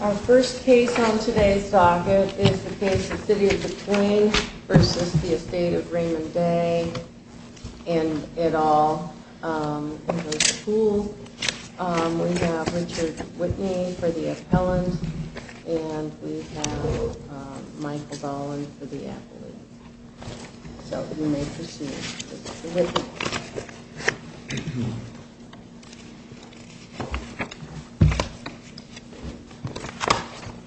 Our first case on today's docket is the case of City of DuQuoin v. Estate of Raymond Day and et al. We have Richard Whitney for the appellant and we have Michael Gollin for the appellant.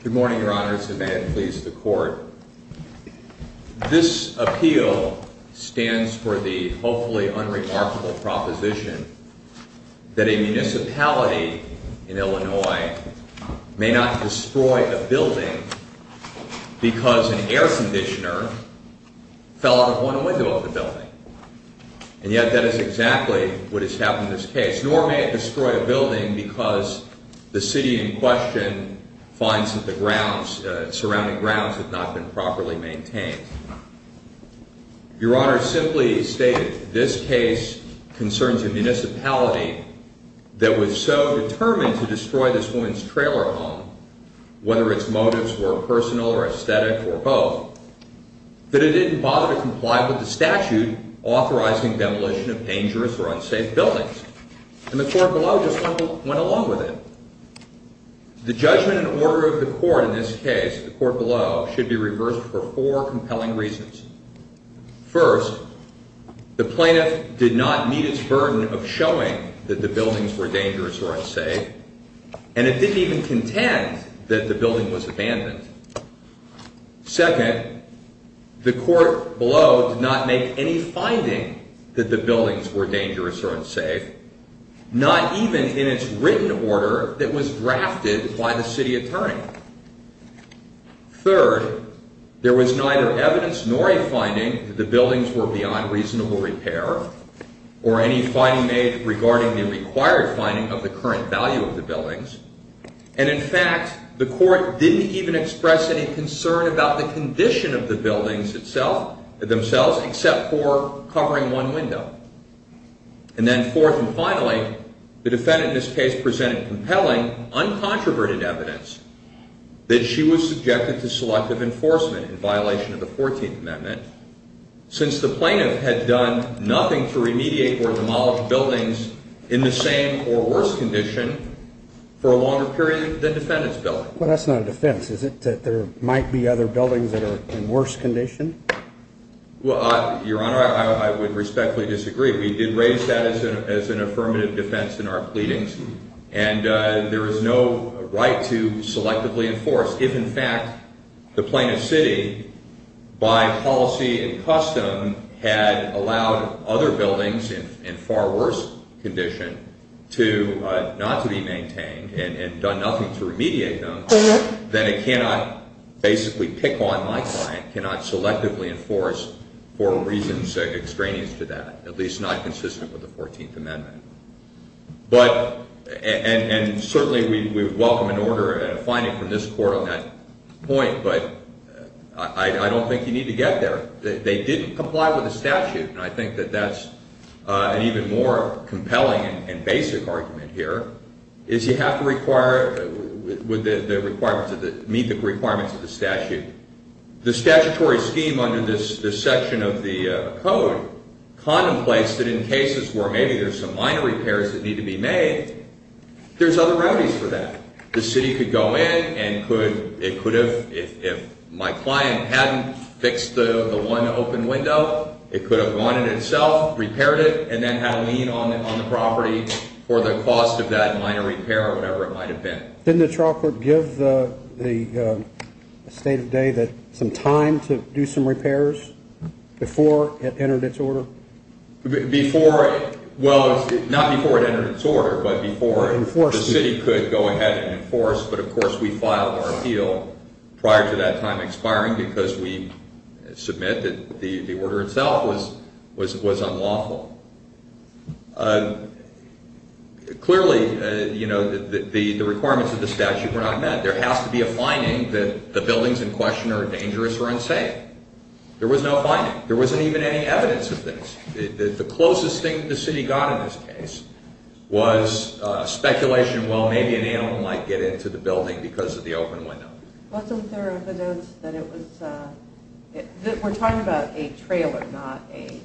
Good morning, your honors, and may it please the court. This appeal stands for the hopefully unremarkable proposition that a municipality in Illinois may not destroy a building because an air conditioner fell out of one window of the building. And yet that is exactly what has happened in this case. Nor may it destroy a building because the city in question finds that the surrounding grounds have not been properly maintained. Your honors, simply stated, this case concerns a municipality that was so determined to destroy this woman's trailer home, whether its motives were personal or aesthetic or both, that it didn't bother to comply with the statute authorizing demolition of dangerous or unsafe buildings. And the court below just went along with it. The judgment and order of the court in this case, the court below, should be reversed for four compelling reasons. First, the plaintiff did not meet its burden of showing that the buildings were dangerous or unsafe, and it didn't even contend that the building was abandoned. Second, the court below did not make any finding that the buildings were dangerous or unsafe, not even in its written order that was drafted by the city attorney. Third, there was neither evidence nor a finding that the buildings were beyond reasonable repair, or any finding made regarding the required finding of the current value of the buildings. And in fact, the court didn't even express any concern about the condition of the buildings themselves, except for covering one window. And then fourth and finally, the defendant in this case presented compelling, uncontroverted evidence that she was subjected to selective enforcement in violation of the 14th Amendment, since the plaintiff had done nothing to remediate or demolish buildings in the same or worse condition for a longer period than the defendant's building. But that's not a defense, is it? That there might be other buildings that are in worse condition? Well, Your Honor, I would respectfully disagree. We did raise that as an affirmative defense in our pleadings, and there is no right to selectively enforce. If, in fact, the plaintiff's city, by policy and custom, had allowed other buildings in far worse condition not to be maintained and done nothing to remediate them, then it cannot basically pick on my client, cannot selectively enforce for reasons extraneous to that, at least not consistent with the 14th Amendment. And certainly, we welcome an order and a finding from this court on that point, but I don't think you need to get there. They didn't comply with the statute, and I think that that's an even more compelling and basic argument here, is you have to meet the requirements of the statute. The statutory scheme under this section of the code contemplates that in cases where maybe there's some minor repairs that need to be made, there's other remedies for that. The city could go in and it could have, if my client hadn't fixed the one open window, it could have gone in itself, repaired it, and then had a lien on the property for the cost of that minor repair or whatever it might have been. Didn't the trial court give the state of the day some time to do some repairs before it entered its order? Before – well, not before it entered its order, but before the city could go ahead and enforce. But, of course, we filed our appeal prior to that time expiring because we submit that the order itself was unlawful. Clearly, you know, the requirements of the statute were not met. There has to be a finding that the buildings in question are dangerous or unsafe. There was no finding. There wasn't even any evidence of this. The closest thing the city got in this case was speculation, well, maybe an animal might get into the building because of the open window. Wasn't there evidence that it was – we're talking about a trailer, not a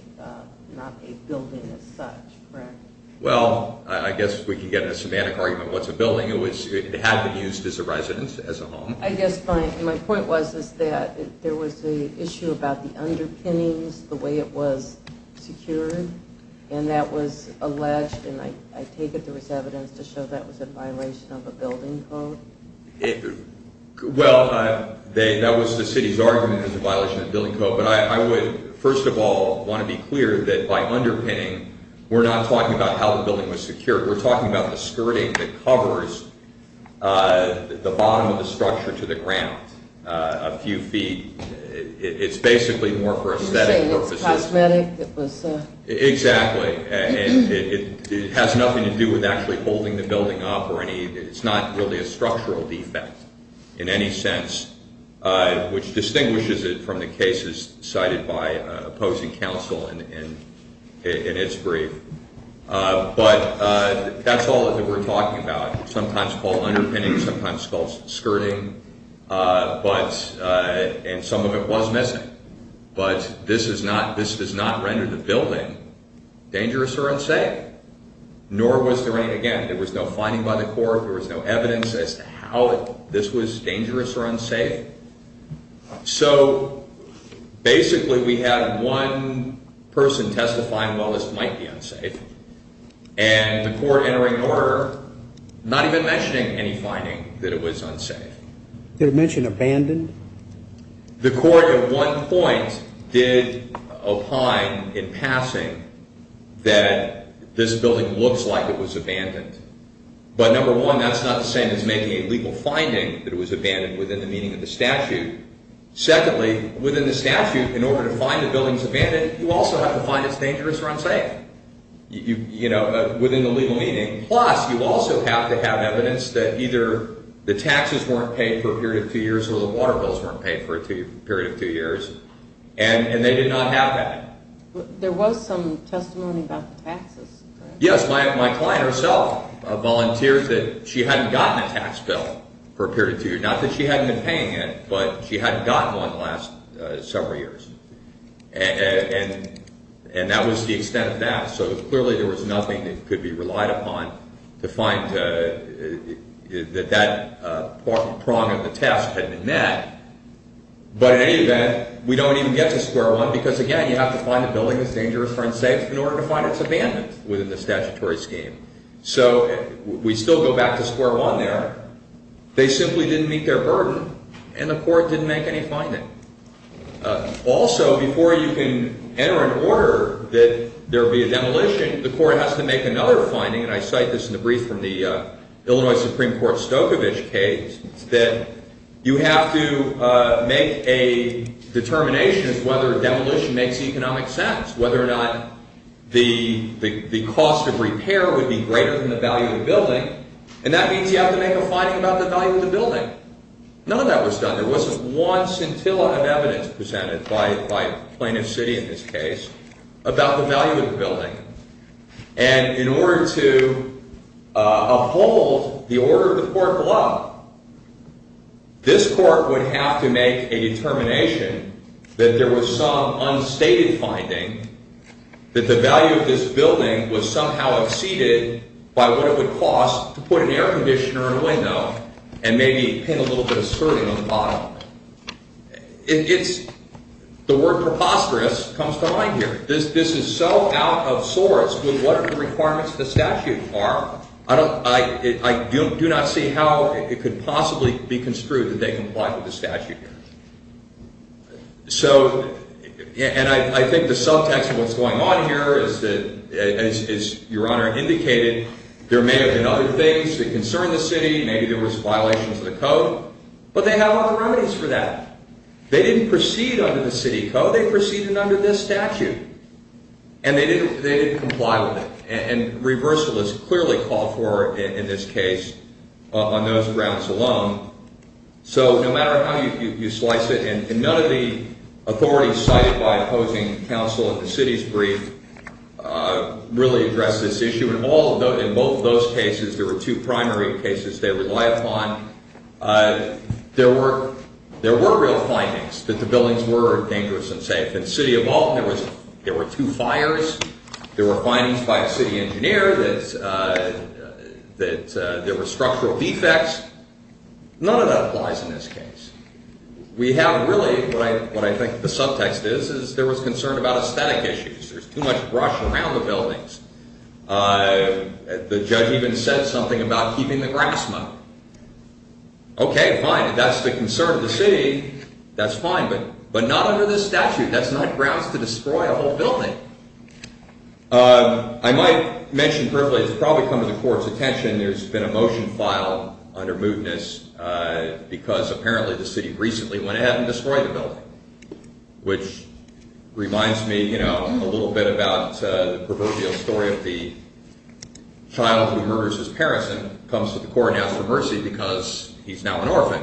building as such, correct? Well, I guess we can get a semantic argument. What's a building? It had been used as a residence, as a home. I guess my point was that there was an issue about the underpinnings, the way it was secured, and that was alleged, and I take it there was evidence to show that was a violation of a building code? Well, that was the city's argument that it was a violation of a building code. But I would, first of all, want to be clear that by underpinning, we're not talking about how the building was secured. We're talking about the skirting that covers the bottom of the structure to the ground a few feet. It's basically more for aesthetic purposes. You're saying it's cosmetic? Exactly. It has nothing to do with actually holding the building up or any – it's not really a structural defect in any sense, which distinguishes it from the cases cited by opposing counsel in its brief. But that's all that we're talking about, sometimes called underpinning, sometimes called skirting, and some of it was missing. But this is not – this does not render the building dangerous or unsafe, nor was there any – again, there was no finding by the court, there was no evidence as to how this was dangerous or unsafe. So basically, we had one person testifying, well, this might be unsafe, and the court entering order not even mentioning any finding that it was unsafe. Did it mention abandoned? The court at one point did opine in passing that this building looks like it was abandoned. But number one, that's not the same as making a legal finding that it was abandoned within the meaning of the statute. Secondly, within the statute, in order to find the building's abandoned, you also have to find it's dangerous or unsafe, you know, within the legal meaning. Plus, you also have to have evidence that either the taxes weren't paid for a period of two years or the water bills weren't paid for a period of two years, and they did not have that. There was some testimony about the taxes. Yes, my client herself volunteered that she hadn't gotten a tax bill for a period of two years. Not that she hadn't been paying it, but she hadn't gotten one the last several years. And that was the extent of that. So clearly, there was nothing that could be relied upon to find that that prong of the test had been met. But in any event, we don't even get to square one because, again, you have to find a building that's dangerous or unsafe in order to find it's abandoned within the statutory scheme. So we still go back to square one there. They simply didn't meet their burden, and the court didn't make any finding. Also, before you can enter an order that there be a demolition, the court has to make another finding, and I cite this in the brief from the Illinois Supreme Court Stokovich case, that you have to make a determination as to whether a demolition makes economic sense, whether or not the cost of repair would be greater than the value of the building. And that means you have to make a finding about the value of the building. None of that was done. There wasn't one scintilla of evidence presented by Plaintiff's City in this case about the value of the building. And in order to uphold the order of the court below, this court would have to make a determination that there was some unstated finding, that the value of this building was somehow exceeded by what it would cost to put an air conditioner in a window and maybe paint a little bit of skirting on the bottom. The word preposterous comes to mind here. This is so out of source with what the requirements of the statute are. I do not see how it could possibly be construed that they comply with the statute. And I think the subtext of what's going on here is that, as Your Honor indicated, there may have been other things that concern the city. Maybe there was violations of the code. But they have other remedies for that. They didn't proceed under the city code. They proceeded under this statute. And they didn't comply with it. And reversal is clearly called for in this case on those grounds alone. So no matter how you slice it, and none of the authorities cited by opposing counsel in the city's brief really address this issue. In both of those cases, there were two primary cases they rely upon. There were real findings that the buildings were dangerous and safe. In City of Alton, there were two fires. There were findings by a city engineer that there were structural defects. None of that applies in this case. We have really, what I think the subtext is, is there was concern about aesthetic issues. There's too much brush around the buildings. The judge even said something about keeping the grass mowed. Okay, fine. If that's the concern of the city, that's fine. But not under this statute. That's not grounds to destroy a whole building. I might mention briefly. It's probably come to the Court's attention. There's been a motion filed under mootness because apparently the city recently went ahead and destroyed a building, which reminds me a little bit about the proverbial story of the child who murders his parents and comes to the Court and asks for mercy because he's now an orphan.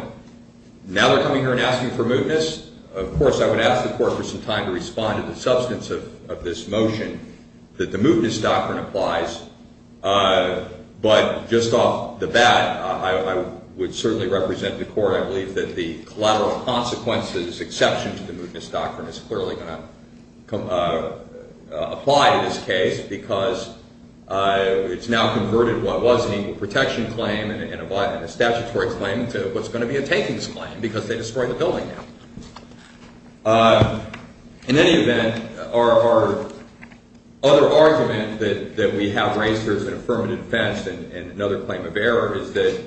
Now they're coming here and asking for mootness. Of course, I would ask the Court for some time to respond to the substance of this motion that the mootness doctrine applies. But just off the bat, I would certainly represent the Court. I believe that the collateral consequences exception to the mootness doctrine is clearly going to apply in this case because it's now converted what was an equal protection claim and a statutory claim into what's going to be a takings claim because they destroyed the building now. In any event, our other argument that we have raised here as an affirmative defense and another claim of error is that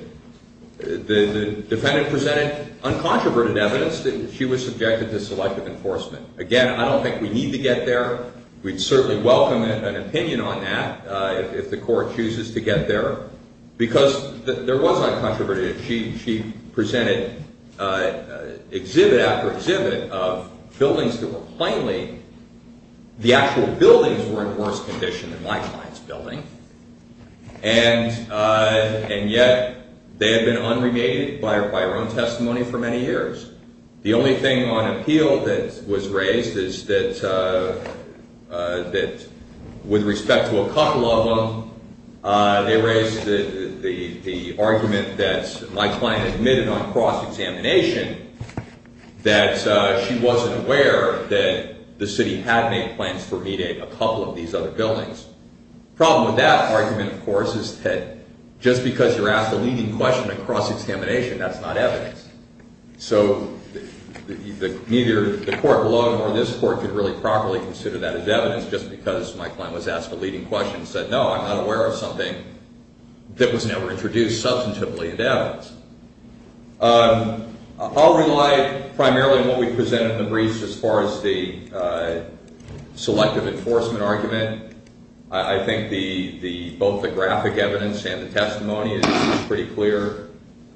the defendant presented uncontroverted evidence that she was subjected to selective enforcement. Again, I don't think we need to get there. We'd certainly welcome an opinion on that if the Court chooses to get there because there was uncontroverted. She presented exhibit after exhibit of buildings that were plainly – the actual buildings were in worse condition than my client's building, and yet they had been unremitted by her own testimony for many years. The only thing on appeal that was raised is that with respect to a couple of them, they raised the argument that my client admitted on cross-examination that she wasn't aware that the city had made plans for meeting a couple of these other buildings. The problem with that argument, of course, is that just because you're asked a leading question on cross-examination, that's not evidence. So neither the Court alone nor this Court could really properly consider that as evidence just because my client was asked a leading question and said, no, I'm not aware of something that was never introduced substantively in evidence. I'll rely primarily on what we presented in the briefs as far as the selective enforcement argument. I think both the graphic evidence and the testimony is pretty clear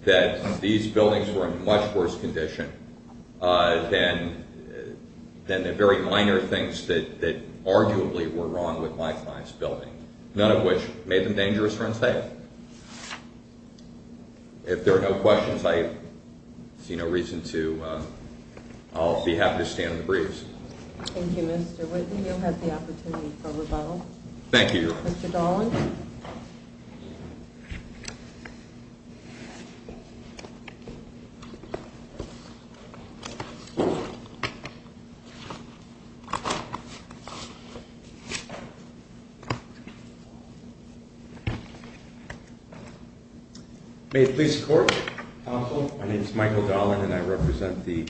that these buildings were in much worse condition than the very minor things that arguably were wrong with my client's building, none of which made them dangerous or unsafe. If there are no questions, I see no reason to – I'll be happy to stand in the briefs. Thank you, Mr. Whitten. You have the opportunity for rebuttal. Thank you. Mr. Dolan. Thank you. May it please the Court, Counsel. My name is Michael Dolan and I represent the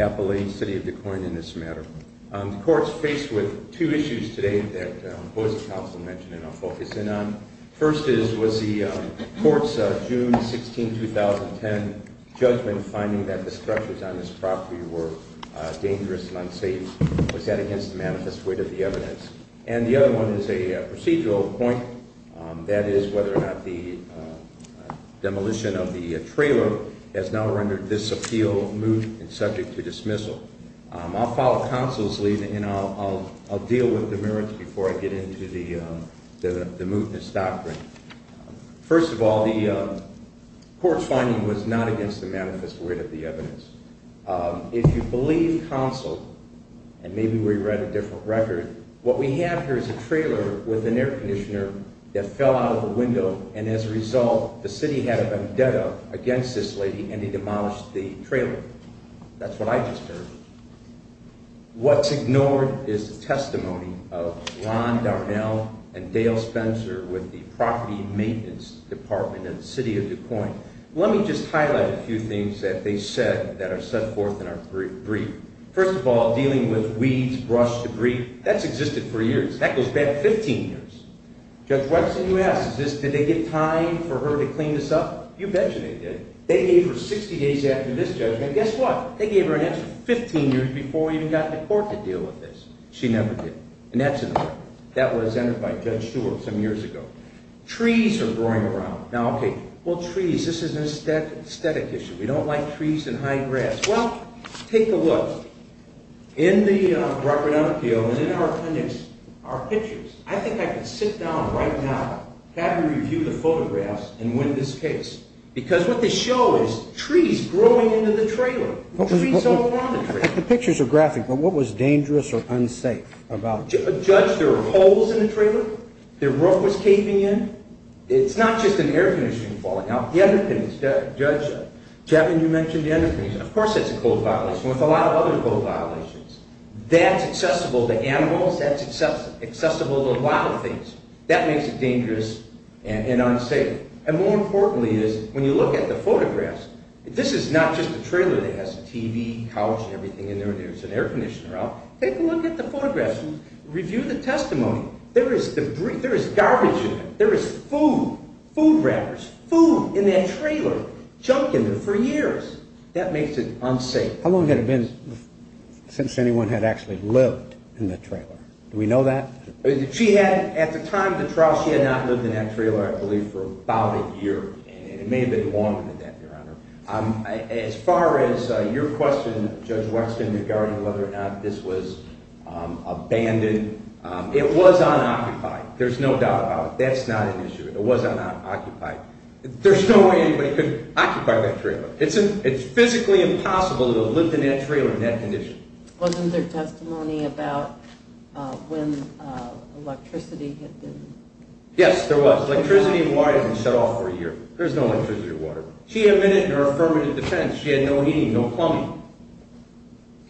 Appalachian City of Des Moines in this matter. The Court is faced with two issues today that both the Counsel mentioned and I'll focus in on. First is, was the Court's June 16, 2010 judgment finding that the structures on this property were dangerous and unsafe, was that against the manifest weight of the evidence? And the other one is a procedural point, that is, whether or not the demolition of the trailer has now rendered this appeal moot and subject to dismissal. I'll follow Counsel's lead and I'll deal with the merits before I get into the mootness doctrine. First of all, the Court's finding was not against the manifest weight of the evidence. If you believe Counsel, and maybe we read a different record, what we have here is a trailer with an air conditioner that fell out of a window and as a result the City had a vendetta against this lady and he demolished the trailer. That's what I just heard. What's ignored is the testimony of Ron Darnell and Dale Spencer with the Property Maintenance Department in the City of Des Moines. Let me just highlight a few things that they said that are set forth in our brief. First of all, dealing with weeds, brush, debris, that's existed for years. That goes back 15 years. Judge Watson, you asked, did they get time for her to clean this up? You betcha they did. They gave her 60 days after this judgment, and guess what? They gave her an answer 15 years before we even got to court to deal with this. She never did, and that's an error. That was entered by Judge Stewart some years ago. Trees are growing around. Now, okay, well, trees, this is an aesthetic issue. We don't like trees and high grass. Well, take a look. In the record on appeal and in our appendix, our pictures, I think I could sit down right now, have you review the photographs, and win this case. Because what they show is trees growing into the trailer, trees all along the trailer. The pictures are graphic, but what was dangerous or unsafe about this? Judge, there were holes in the trailer. The roof was caving in. It's not just an air conditioning falling out. The underpinnings, Judge, you mentioned the underpinnings. Of course that's a code violation. With a lot of other code violations, that's accessible to animals. That's accessible to a lot of things. That makes it dangerous and unsafe. And more importantly is when you look at the photographs, this is not just a trailer that has a TV, couch, everything in there. There's an air conditioner out. Take a look at the photographs. Review the testimony. There is debris. There is garbage in it. There is food, food wrappers, food in that trailer, junk in there for years. That makes it unsafe. How long had it been since anyone had actually lived in that trailer? Do we know that? At the time of the trial, she had not lived in that trailer, I believe, for about a year. It may have been longer than that, Your Honor. As far as your question, Judge Weston, regarding whether or not this was abandoned, it was unoccupied. There's no doubt about it. That's not an issue. It was unoccupied. There's no way anybody could occupy that trailer. It's physically impossible to have lived in that trailer in that condition. Wasn't there testimony about when electricity had been? Yes, there was. Electricity and water had been shut off for a year. There was no electricity or water. She admitted in her affirmative defense she had no heating, no plumbing.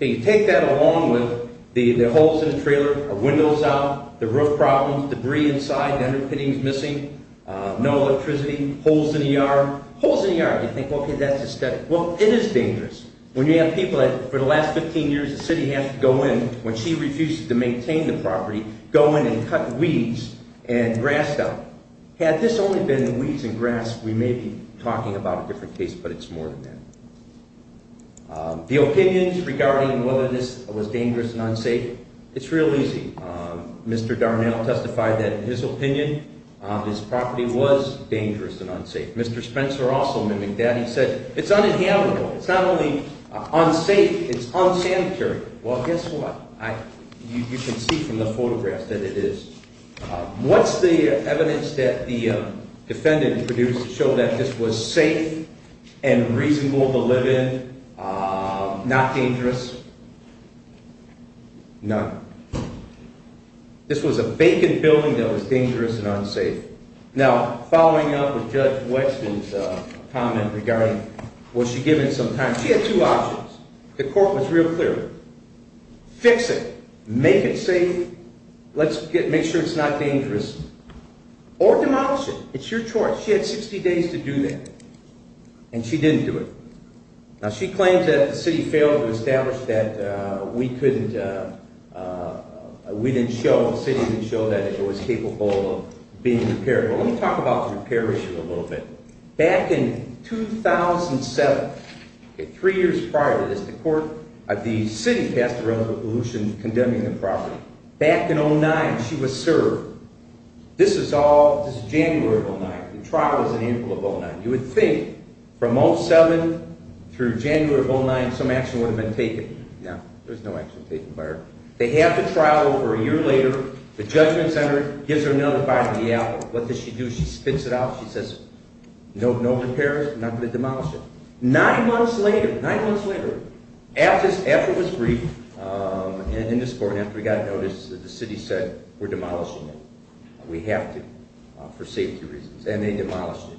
You take that along with the holes in the trailer, the windows out, the roof problems, debris inside, the underpinnings missing, no electricity, holes in the yard. Holes in the yard, you think, okay, that's aesthetic. Well, it is dangerous. When you have people that, for the last 15 years, the city has to go in, when she refuses to maintain the property, go in and cut weeds and grass out. Had this only been weeds and grass, we may be talking about a different case, but it's more than that. The opinions regarding whether this was dangerous and unsafe, it's real easy. Mr. Darnell testified that, in his opinion, this property was dangerous and unsafe. Mr. Spencer also mimicked that. He said it's uninhabitable. It's not only unsafe, it's unsanitary. Well, guess what? You can see from the photographs that it is. What's the evidence that the defendant produced to show that this was safe and reasonable to live in, not dangerous? None. This was a vacant building that was dangerous and unsafe. Now, following up with Judge Weston's comment regarding, was she given some time? She had two options. The court was real clear. Fix it. Make it safe. Let's make sure it's not dangerous. Or demolish it. It's your choice. She had 60 days to do that, and she didn't do it. Now, she claims that the city failed to establish that we couldn't, we didn't show, the city didn't show that it was capable of being repaired. Well, let me talk about the repair issue a little bit. Back in 2007, three years prior to this, the city passed a resolution condemning the property. Back in 2009, she was served. This is January of 2009. The trial was in April of 2009. You would think from 2007 through January of 2009, some action would have been taken. No. There was no action taken by her. They have the trial over a year later. The judgment center gives her another five-day out. What does she do? She spits it out. She says, no repairs. I'm not going to demolish it. Nine months later, nine months later, after it was briefed in this court, after we got notice, the city said, we're demolishing it. We have to, for safety reasons. And they demolished it.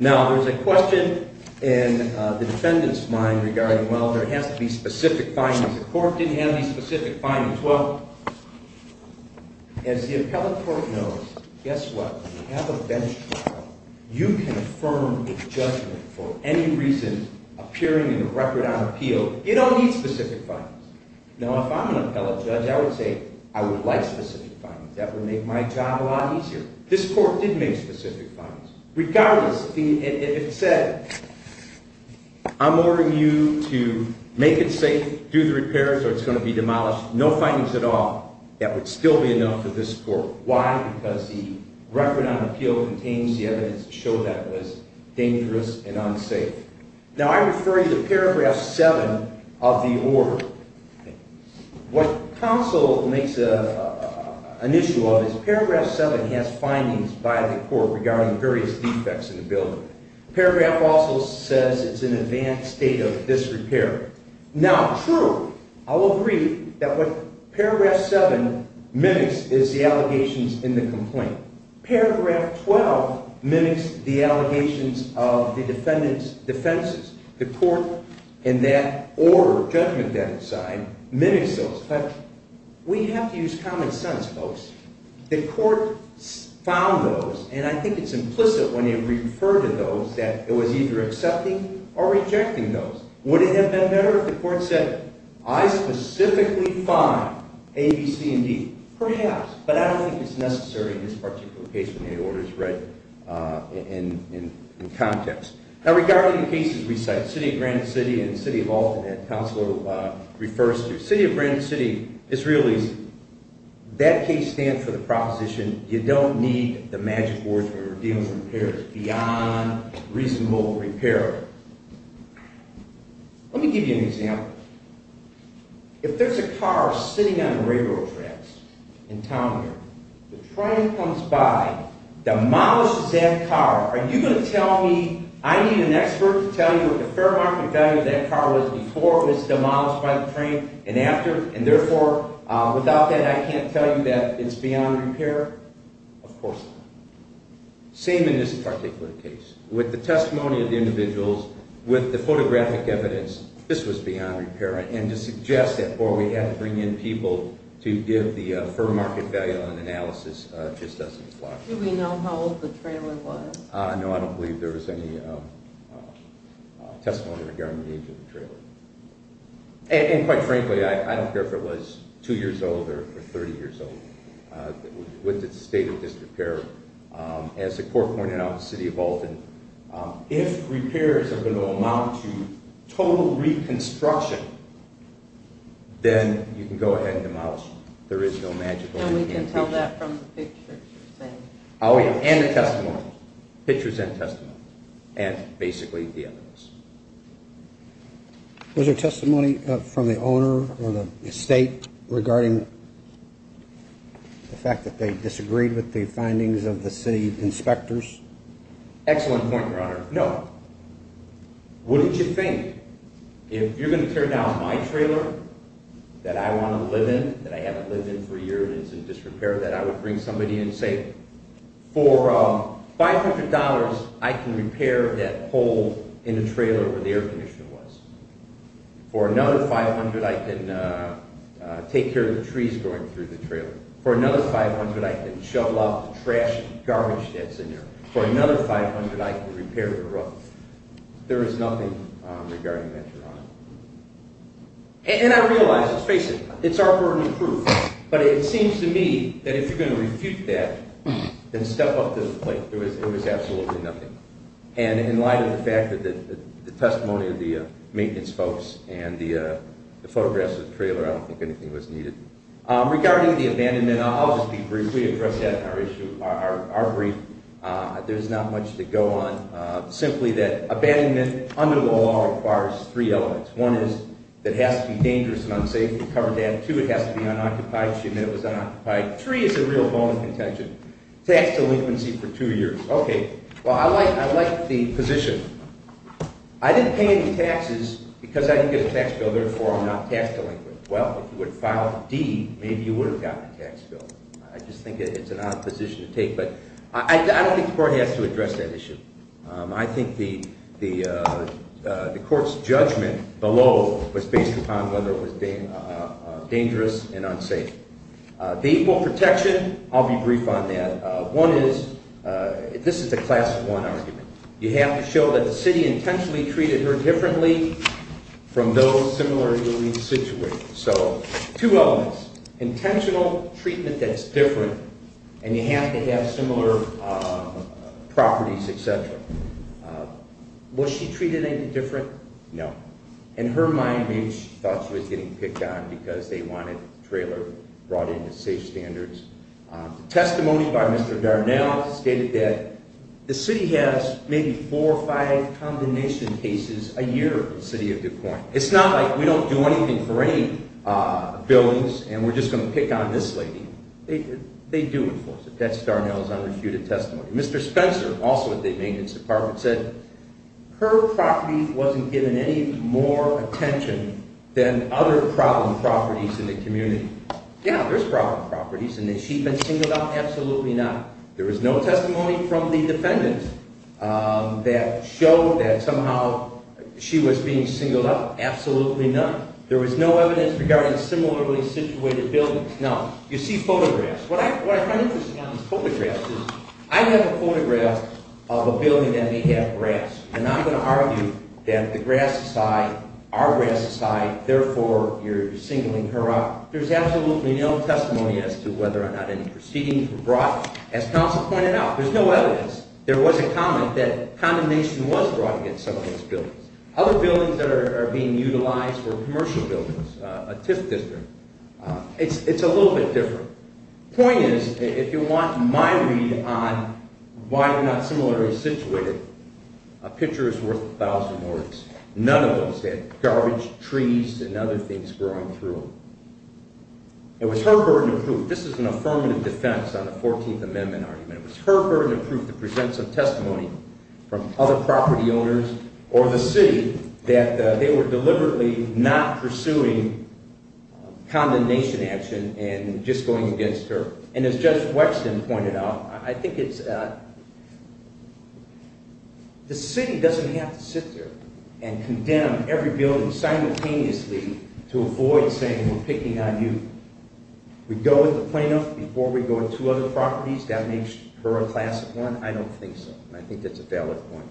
Now, there's a question in the defendant's mind regarding, well, there has to be specific findings. The court didn't have any specific findings. Well, as the appellate court knows, guess what? We have a bench trial. You can affirm a judgment for any reason appearing in a record on appeal. You don't need specific findings. Now, if I'm an appellate judge, I would say I would like specific findings. That would make my job a lot easier. This court did make specific findings. Regardless, if it said, I'm ordering you to make it safe, do the repairs, or it's going to be demolished, no findings at all, that would still be enough for this court. Why? Because the record on appeal contains the evidence to show that it was dangerous and unsafe. Now, I refer you to paragraph 7 of the order. What counsel makes an issue of is paragraph 7 has findings by the court regarding various defects in the building. Paragraph also says it's an advanced state of disrepair. Now, true, I'll agree that what paragraph 7 mimics is the allegations in the complaint. Paragraph 12 mimics the allegations of the defendant's defenses. The court in that order, judgment that it signed, mimics those. But we have to use common sense, folks. The court found those, and I think it's implicit when you refer to those that it was either accepting or rejecting those. Would it have been better if the court said, I specifically find A, B, C, and D? Perhaps, but I don't think it's necessary in this particular case when the order is read in context. Now, regarding the cases we cite, City of Granite City and City of Alton that counsel refers to, City of Granite City is real easy. That case stands for the proposition you don't need the magic words when you're dealing with repairs beyond reasonable repair. Let me give you an example. If there's a car sitting on the railroad tracks in town here, the train comes by, demolishes that car. Are you going to tell me I need an expert to tell you what the fair market value of that car was before it was demolished by the train and after? And therefore, without that, I can't tell you that it's beyond repair? Of course not. Same in this particular case. With the testimony of the individuals, with the photographic evidence, this was beyond repair. And to suggest that before we had to bring in people to give the fair market value on analysis just doesn't apply. Do we know how old the trailer was? No, I don't believe there was any testimony regarding the age of the trailer. And quite frankly, I don't care if it was 2 years old or 30 years old. With the state of disrepair, as the court pointed out, City of Alton, if repairs are going to amount to total reconstruction, then you can go ahead and demolish it. And we can tell that from the pictures you're saying? Oh yeah, and the testimony. Pictures and testimony. And basically the evidence. Was there testimony from the owner or the state regarding the fact that they disagreed with the findings of the city inspectors? Excellent point, Your Honor. No. What did you think? If you're going to tear down my trailer that I want to live in, that I haven't lived in for years and it's in disrepair, that I would bring somebody in and say, for $500, I can repair that hole in the trailer where the air conditioner was. For another $500, I can take care of the trees growing through the trailer. For another $500, I can shovel out the trash and garbage that's in there. For another $500, I can repair the roof. There is nothing regarding that, Your Honor. And I realize, let's face it, it's our burden of proof. But it seems to me that if you're going to refute that, then step up to the plate. There was absolutely nothing. And in light of the fact that the testimony of the maintenance folks and the photographs of the trailer, I don't think anything was needed. Regarding the abandonment, I'll just be brief. We addressed that in our brief. There's not much to go on. Simply that abandonment under the law requires three elements. One is that it has to be dangerous and unsafe to cover that. Two, it has to be unoccupied. She admitted it was unoccupied. Three is a real bone of contention. Tax delinquency for two years. Okay. Well, I like the position. I didn't pay any taxes because I didn't get a tax bill. Therefore, I'm not tax delinquent. Well, if you would have filed a deed, maybe you would have gotten a tax bill. I just think it's an odd position to take. But I don't think the court has to address that issue. I think the court's judgment below was based upon whether it was dangerous and unsafe. The equal protection, I'll be brief on that. One is, this is the class one argument. You have to show that the city intentionally treated her differently from those similarly situated. So, two elements. Intentional treatment that's different, and you have to have similar properties, et cetera. Was she treated any different? No. In her mind, maybe she thought she was getting picked on because they wanted the trailer brought in to safe standards. The testimony by Mr. Darnell stated that the city has maybe four or five combination cases a year for the city of DuPont. It's not like we don't do anything for any buildings and we're just going to pick on this lady. They do enforce it. That's Darnell's unrefuted testimony. Mr. Spencer, also at the maintenance department, said her property wasn't given any more attention than other problem properties in the community. Yeah, there's problem properties. And has she been singled out? Absolutely not. There was no testimony from the defendant that showed that somehow she was being singled out. Absolutely not. There was no evidence regarding similarly situated buildings. Now, you see photographs. What I find interesting on these photographs is I have a photograph of a building that may have grass. And I'm going to argue that the grass aside, our grass aside, therefore you're singling her out. There's absolutely no testimony as to whether or not any proceedings were brought. As counsel pointed out, there's no evidence. There was a comment that condemnation was brought against some of these buildings. Other buildings that are being utilized were commercial buildings, a TIF district. It's a little bit different. The point is, if you want my read on why they're not similarly situated, a picture is worth a thousand words. None of those had garbage, trees, and other things growing through them. It was her burden of proof. This is an affirmative defense on the 14th Amendment argument. It was her burden of proof to present some testimony from other property owners or the city that they were deliberately not pursuing condemnation action and just going against her. And as Judge Wexton pointed out, I think it's – the city doesn't have to sit there and condemn every building simultaneously to avoid saying we're picking on you. We go with the plaintiff before we go to two other properties. That makes her a class of one. I don't think so. I think that's a valid point.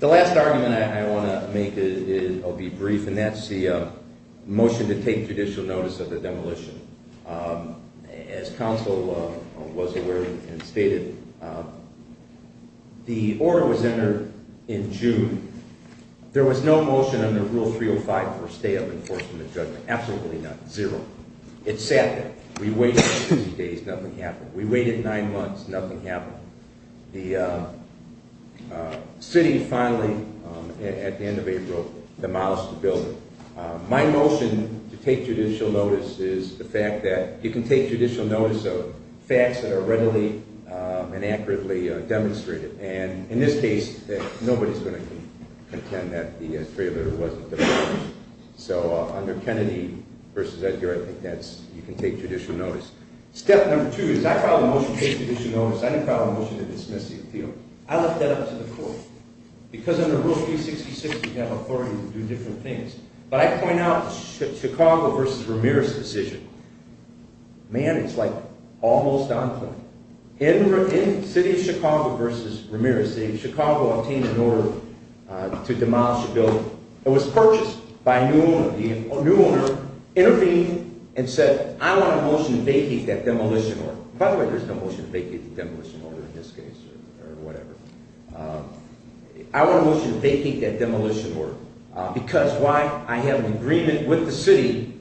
The last argument I want to make will be brief, and that's the motion to take judicial notice of the demolition. As counsel was aware and stated, the order was entered in June. There was no motion under Rule 305 for a stay of enforcement judgment, absolutely not, zero. It sat there. We waited two days, nothing happened. We waited nine months, nothing happened. The city finally, at the end of April, demolished the building. My motion to take judicial notice is the fact that you can take judicial notice of facts that are readily and accurately demonstrated. And in this case, nobody's going to contend that the trailer wasn't demolished. So under Kennedy v. Edgar, I think that's – you can take judicial notice. Step number two is I filed a motion to take judicial notice. I didn't file a motion to dismiss the appeal. I left that up to the court. Because under Rule 366, you have authority to do different things. But I point out the Chicago v. Ramirez decision. Man, it's like almost on point. In the city of Chicago v. Ramirez, Chicago obtained an order to demolish a building. It was purchased by a new owner. The new owner intervened and said, I want a motion to vacate that demolition order. By the way, there's no motion to vacate the demolition order in this case or whatever. I want a motion to vacate that demolition order because why? I have an agreement with the city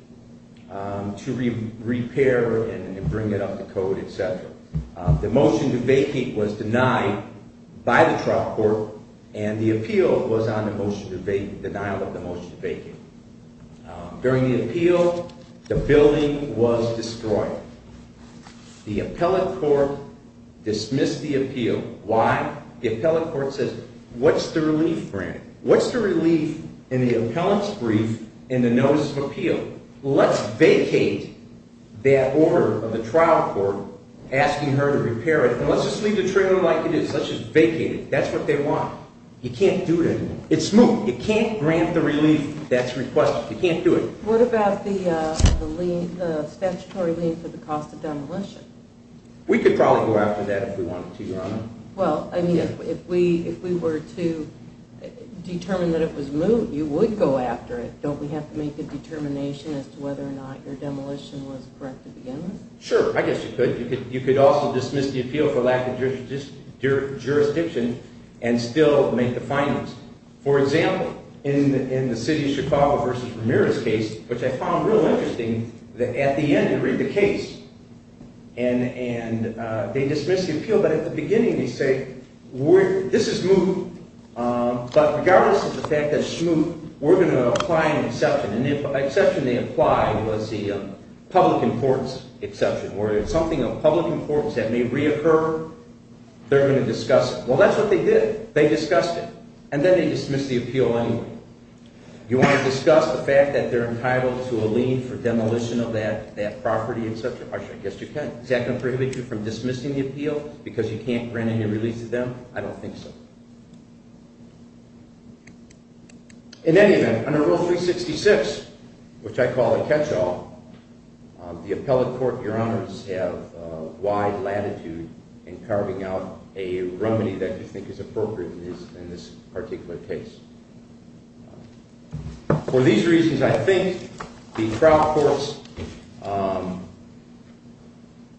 to repair and bring it up to code, et cetera. The motion to vacate was denied by the trial court, and the appeal was on the motion to vacate, denial of the motion to vacate. During the appeal, the building was destroyed. The appellate court dismissed the appeal. Why? The appellate court says, what's the relief grant? What's the relief in the appellant's brief and the notice of appeal? Let's vacate that order of the trial court asking her to repair it, and let's just leave the trailer like it is. Let's just vacate it. That's what they want. You can't do that. It's moot. You can't grant the relief that's requested. You can't do it. What about the statutory lien for the cost of demolition? We could probably go after that if we wanted to, Your Honor. Well, I mean, if we were to determine that it was moot, you would go after it. Don't we have to make a determination as to whether or not your demolition was correct to begin with? Sure. I guess you could. You could also dismiss the appeal for lack of jurisdiction and still make the findings. For example, in the city of Chicago versus Ramirez case, which I found real interesting, at the end you read the case, and they dismiss the appeal. But at the beginning they say, this is moot, but regardless of the fact that it's moot, we're going to apply an exception. And the exception they applied was the public importance exception, where it's something of public importance that may reoccur. They're going to discuss it. Well, that's what they did. They discussed it. And then they dismissed the appeal anyway. Do you want to discuss the fact that they're entitled to a lien for demolition of that property and such? I guess you can. Is that going to prohibit you from dismissing the appeal because you can't grant any release to them? I don't think so. In any event, under Rule 366, which I call a catch-all, the appellate court and your honors have wide latitude in carving out a remedy that you think is appropriate in this particular case. For these reasons, I think the trial court's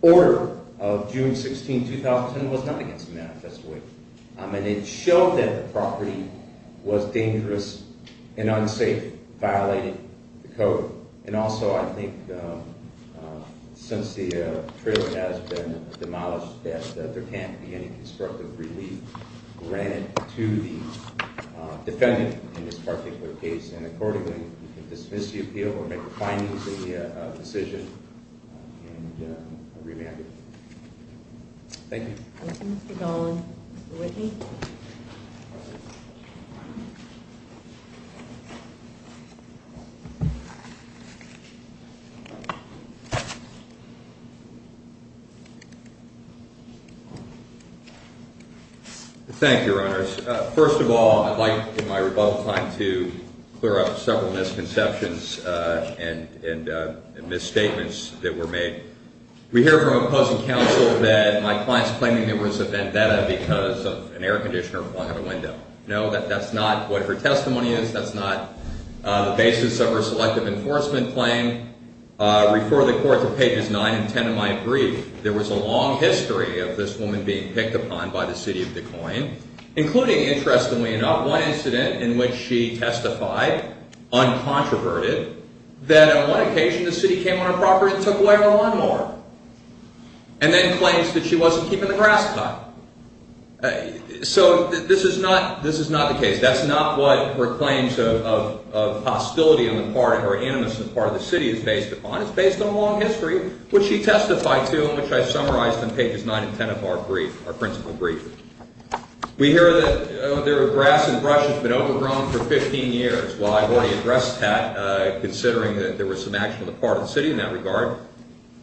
order of June 16, 2010, was not against the manifesto. And it showed that the property was dangerous and unsafe, violating the code. And also, I think since the trailer has been demolished, that there can't be any constructive relief granted to the defendant in this particular case. And accordingly, you can dismiss the appeal or make a findings in the decision and remand it. Thank you. Thank you, Mr. Dolan. Mr. Whitney? Thank you, your honors. First of all, I'd like in my rebuttal time to clear up several misconceptions and misstatements that were made. We hear from opposing counsel that my client's claiming there was a vendetta because of an air conditioner flung out a window. No, that's not what her testimony is. That's not the basis of her selective enforcement claim. Refer the court to pages 9 and 10 of my brief. There was a long history of this woman being picked upon by the city of Des Moines, including, interestingly enough, one incident in which she testified, uncontroverted, that on one occasion the city came on her property and took away her lawnmower. And then claims that she wasn't keeping the grass cut. So this is not the case. That's not what her claims of hostility on the part or animus on the part of the city is based upon. It's based on a long history, which she testified to and which I summarized on pages 9 and 10 of our brief, our principal brief. We hear that the grass and brush has been overgrown for 15 years. Well, I've already addressed that, considering that there was some action on the part of the city in that regard.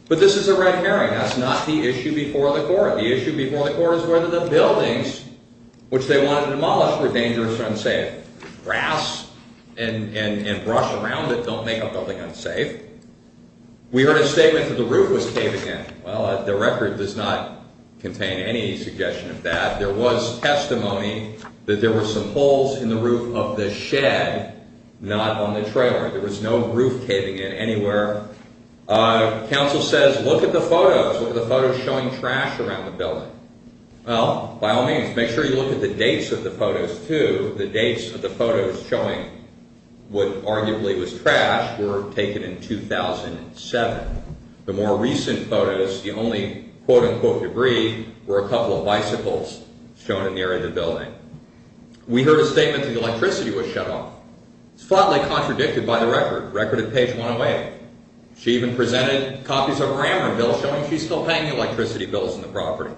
But this is a red herring. That's not the issue before the court. The issue before the court is whether the buildings, which they wanted demolished, were dangerous or unsafe. Grass and brush around it don't make a building unsafe. We heard a statement that the roof was caving in. Well, the record does not contain any suggestion of that. There was testimony that there were some holes in the roof of the shed, not on the trailer. There was no roof caving in anywhere. Council says, look at the photos. Look at the photos showing trash around the building. Well, by all means, make sure you look at the dates of the photos, too. The dates of the photos showing what arguably was trash were taken in 2007. The more recent photos, the only, quote-unquote, debris, were a couple of bicycles shown in the area of the building. We heard a statement that the electricity was shut off. It's flatly contradicted by the record. Recorded page 108. She even presented copies of her amortization bill showing she's still paying the electricity bills on the property.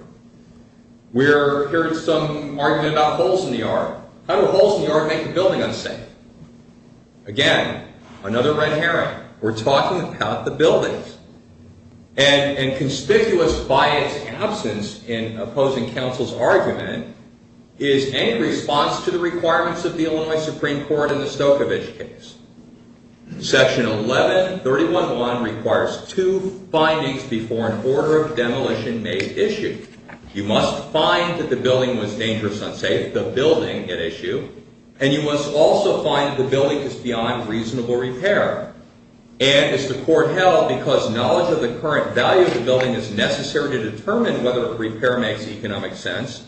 We heard some argument about holes in the yard. How do holes in the yard make a building unsafe? Again, another red herring. We're talking about the buildings. And conspicuous by its absence in opposing counsel's argument is any response to the requirements of the Illinois Supreme Court in the Stokovich case. Section 1131.1 requires two findings before an order of demolition may issue. You must find that the building was dangerous, unsafe. The building at issue. And you must also find that the building is beyond reasonable repair. And as the court held, because knowledge of the current value of the building is necessary to determine whether a repair makes economic sense,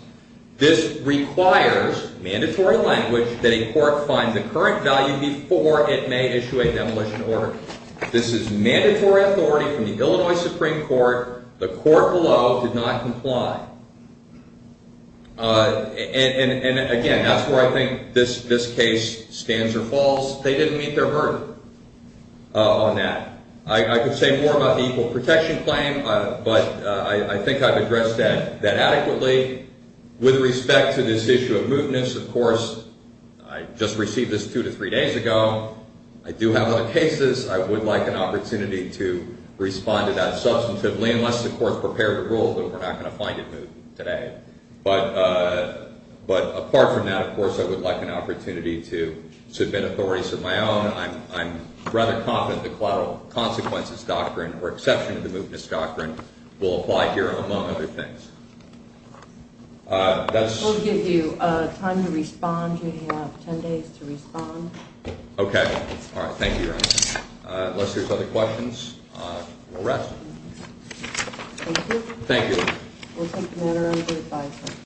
this requires, mandatory language, that a court find the current value before it may issue a demolition order. This is mandatory authority from the Illinois Supreme Court. The court below did not comply. And again, that's where I think this case stands or falls. They didn't meet their burden on that. I could say more about the equal protection claim, but I think I've addressed that adequately. With respect to this issue of mootness, of course, I just received this two to three days ago. I do have other cases. I would like an opportunity to respond to that substantively unless the court's prepared to rule that we're not going to find it moot today. But apart from that, of course, I would like an opportunity to submit authorities of my own. I'm rather confident the collateral consequences doctrine or exception to the mootness doctrine will apply here, among other things. We'll give you time to respond. You have 10 days to respond. Okay. All right. Thank you, Your Honor. Unless there's other questions, we'll rest. Thank you. Thank you. We'll take the matter under advisory.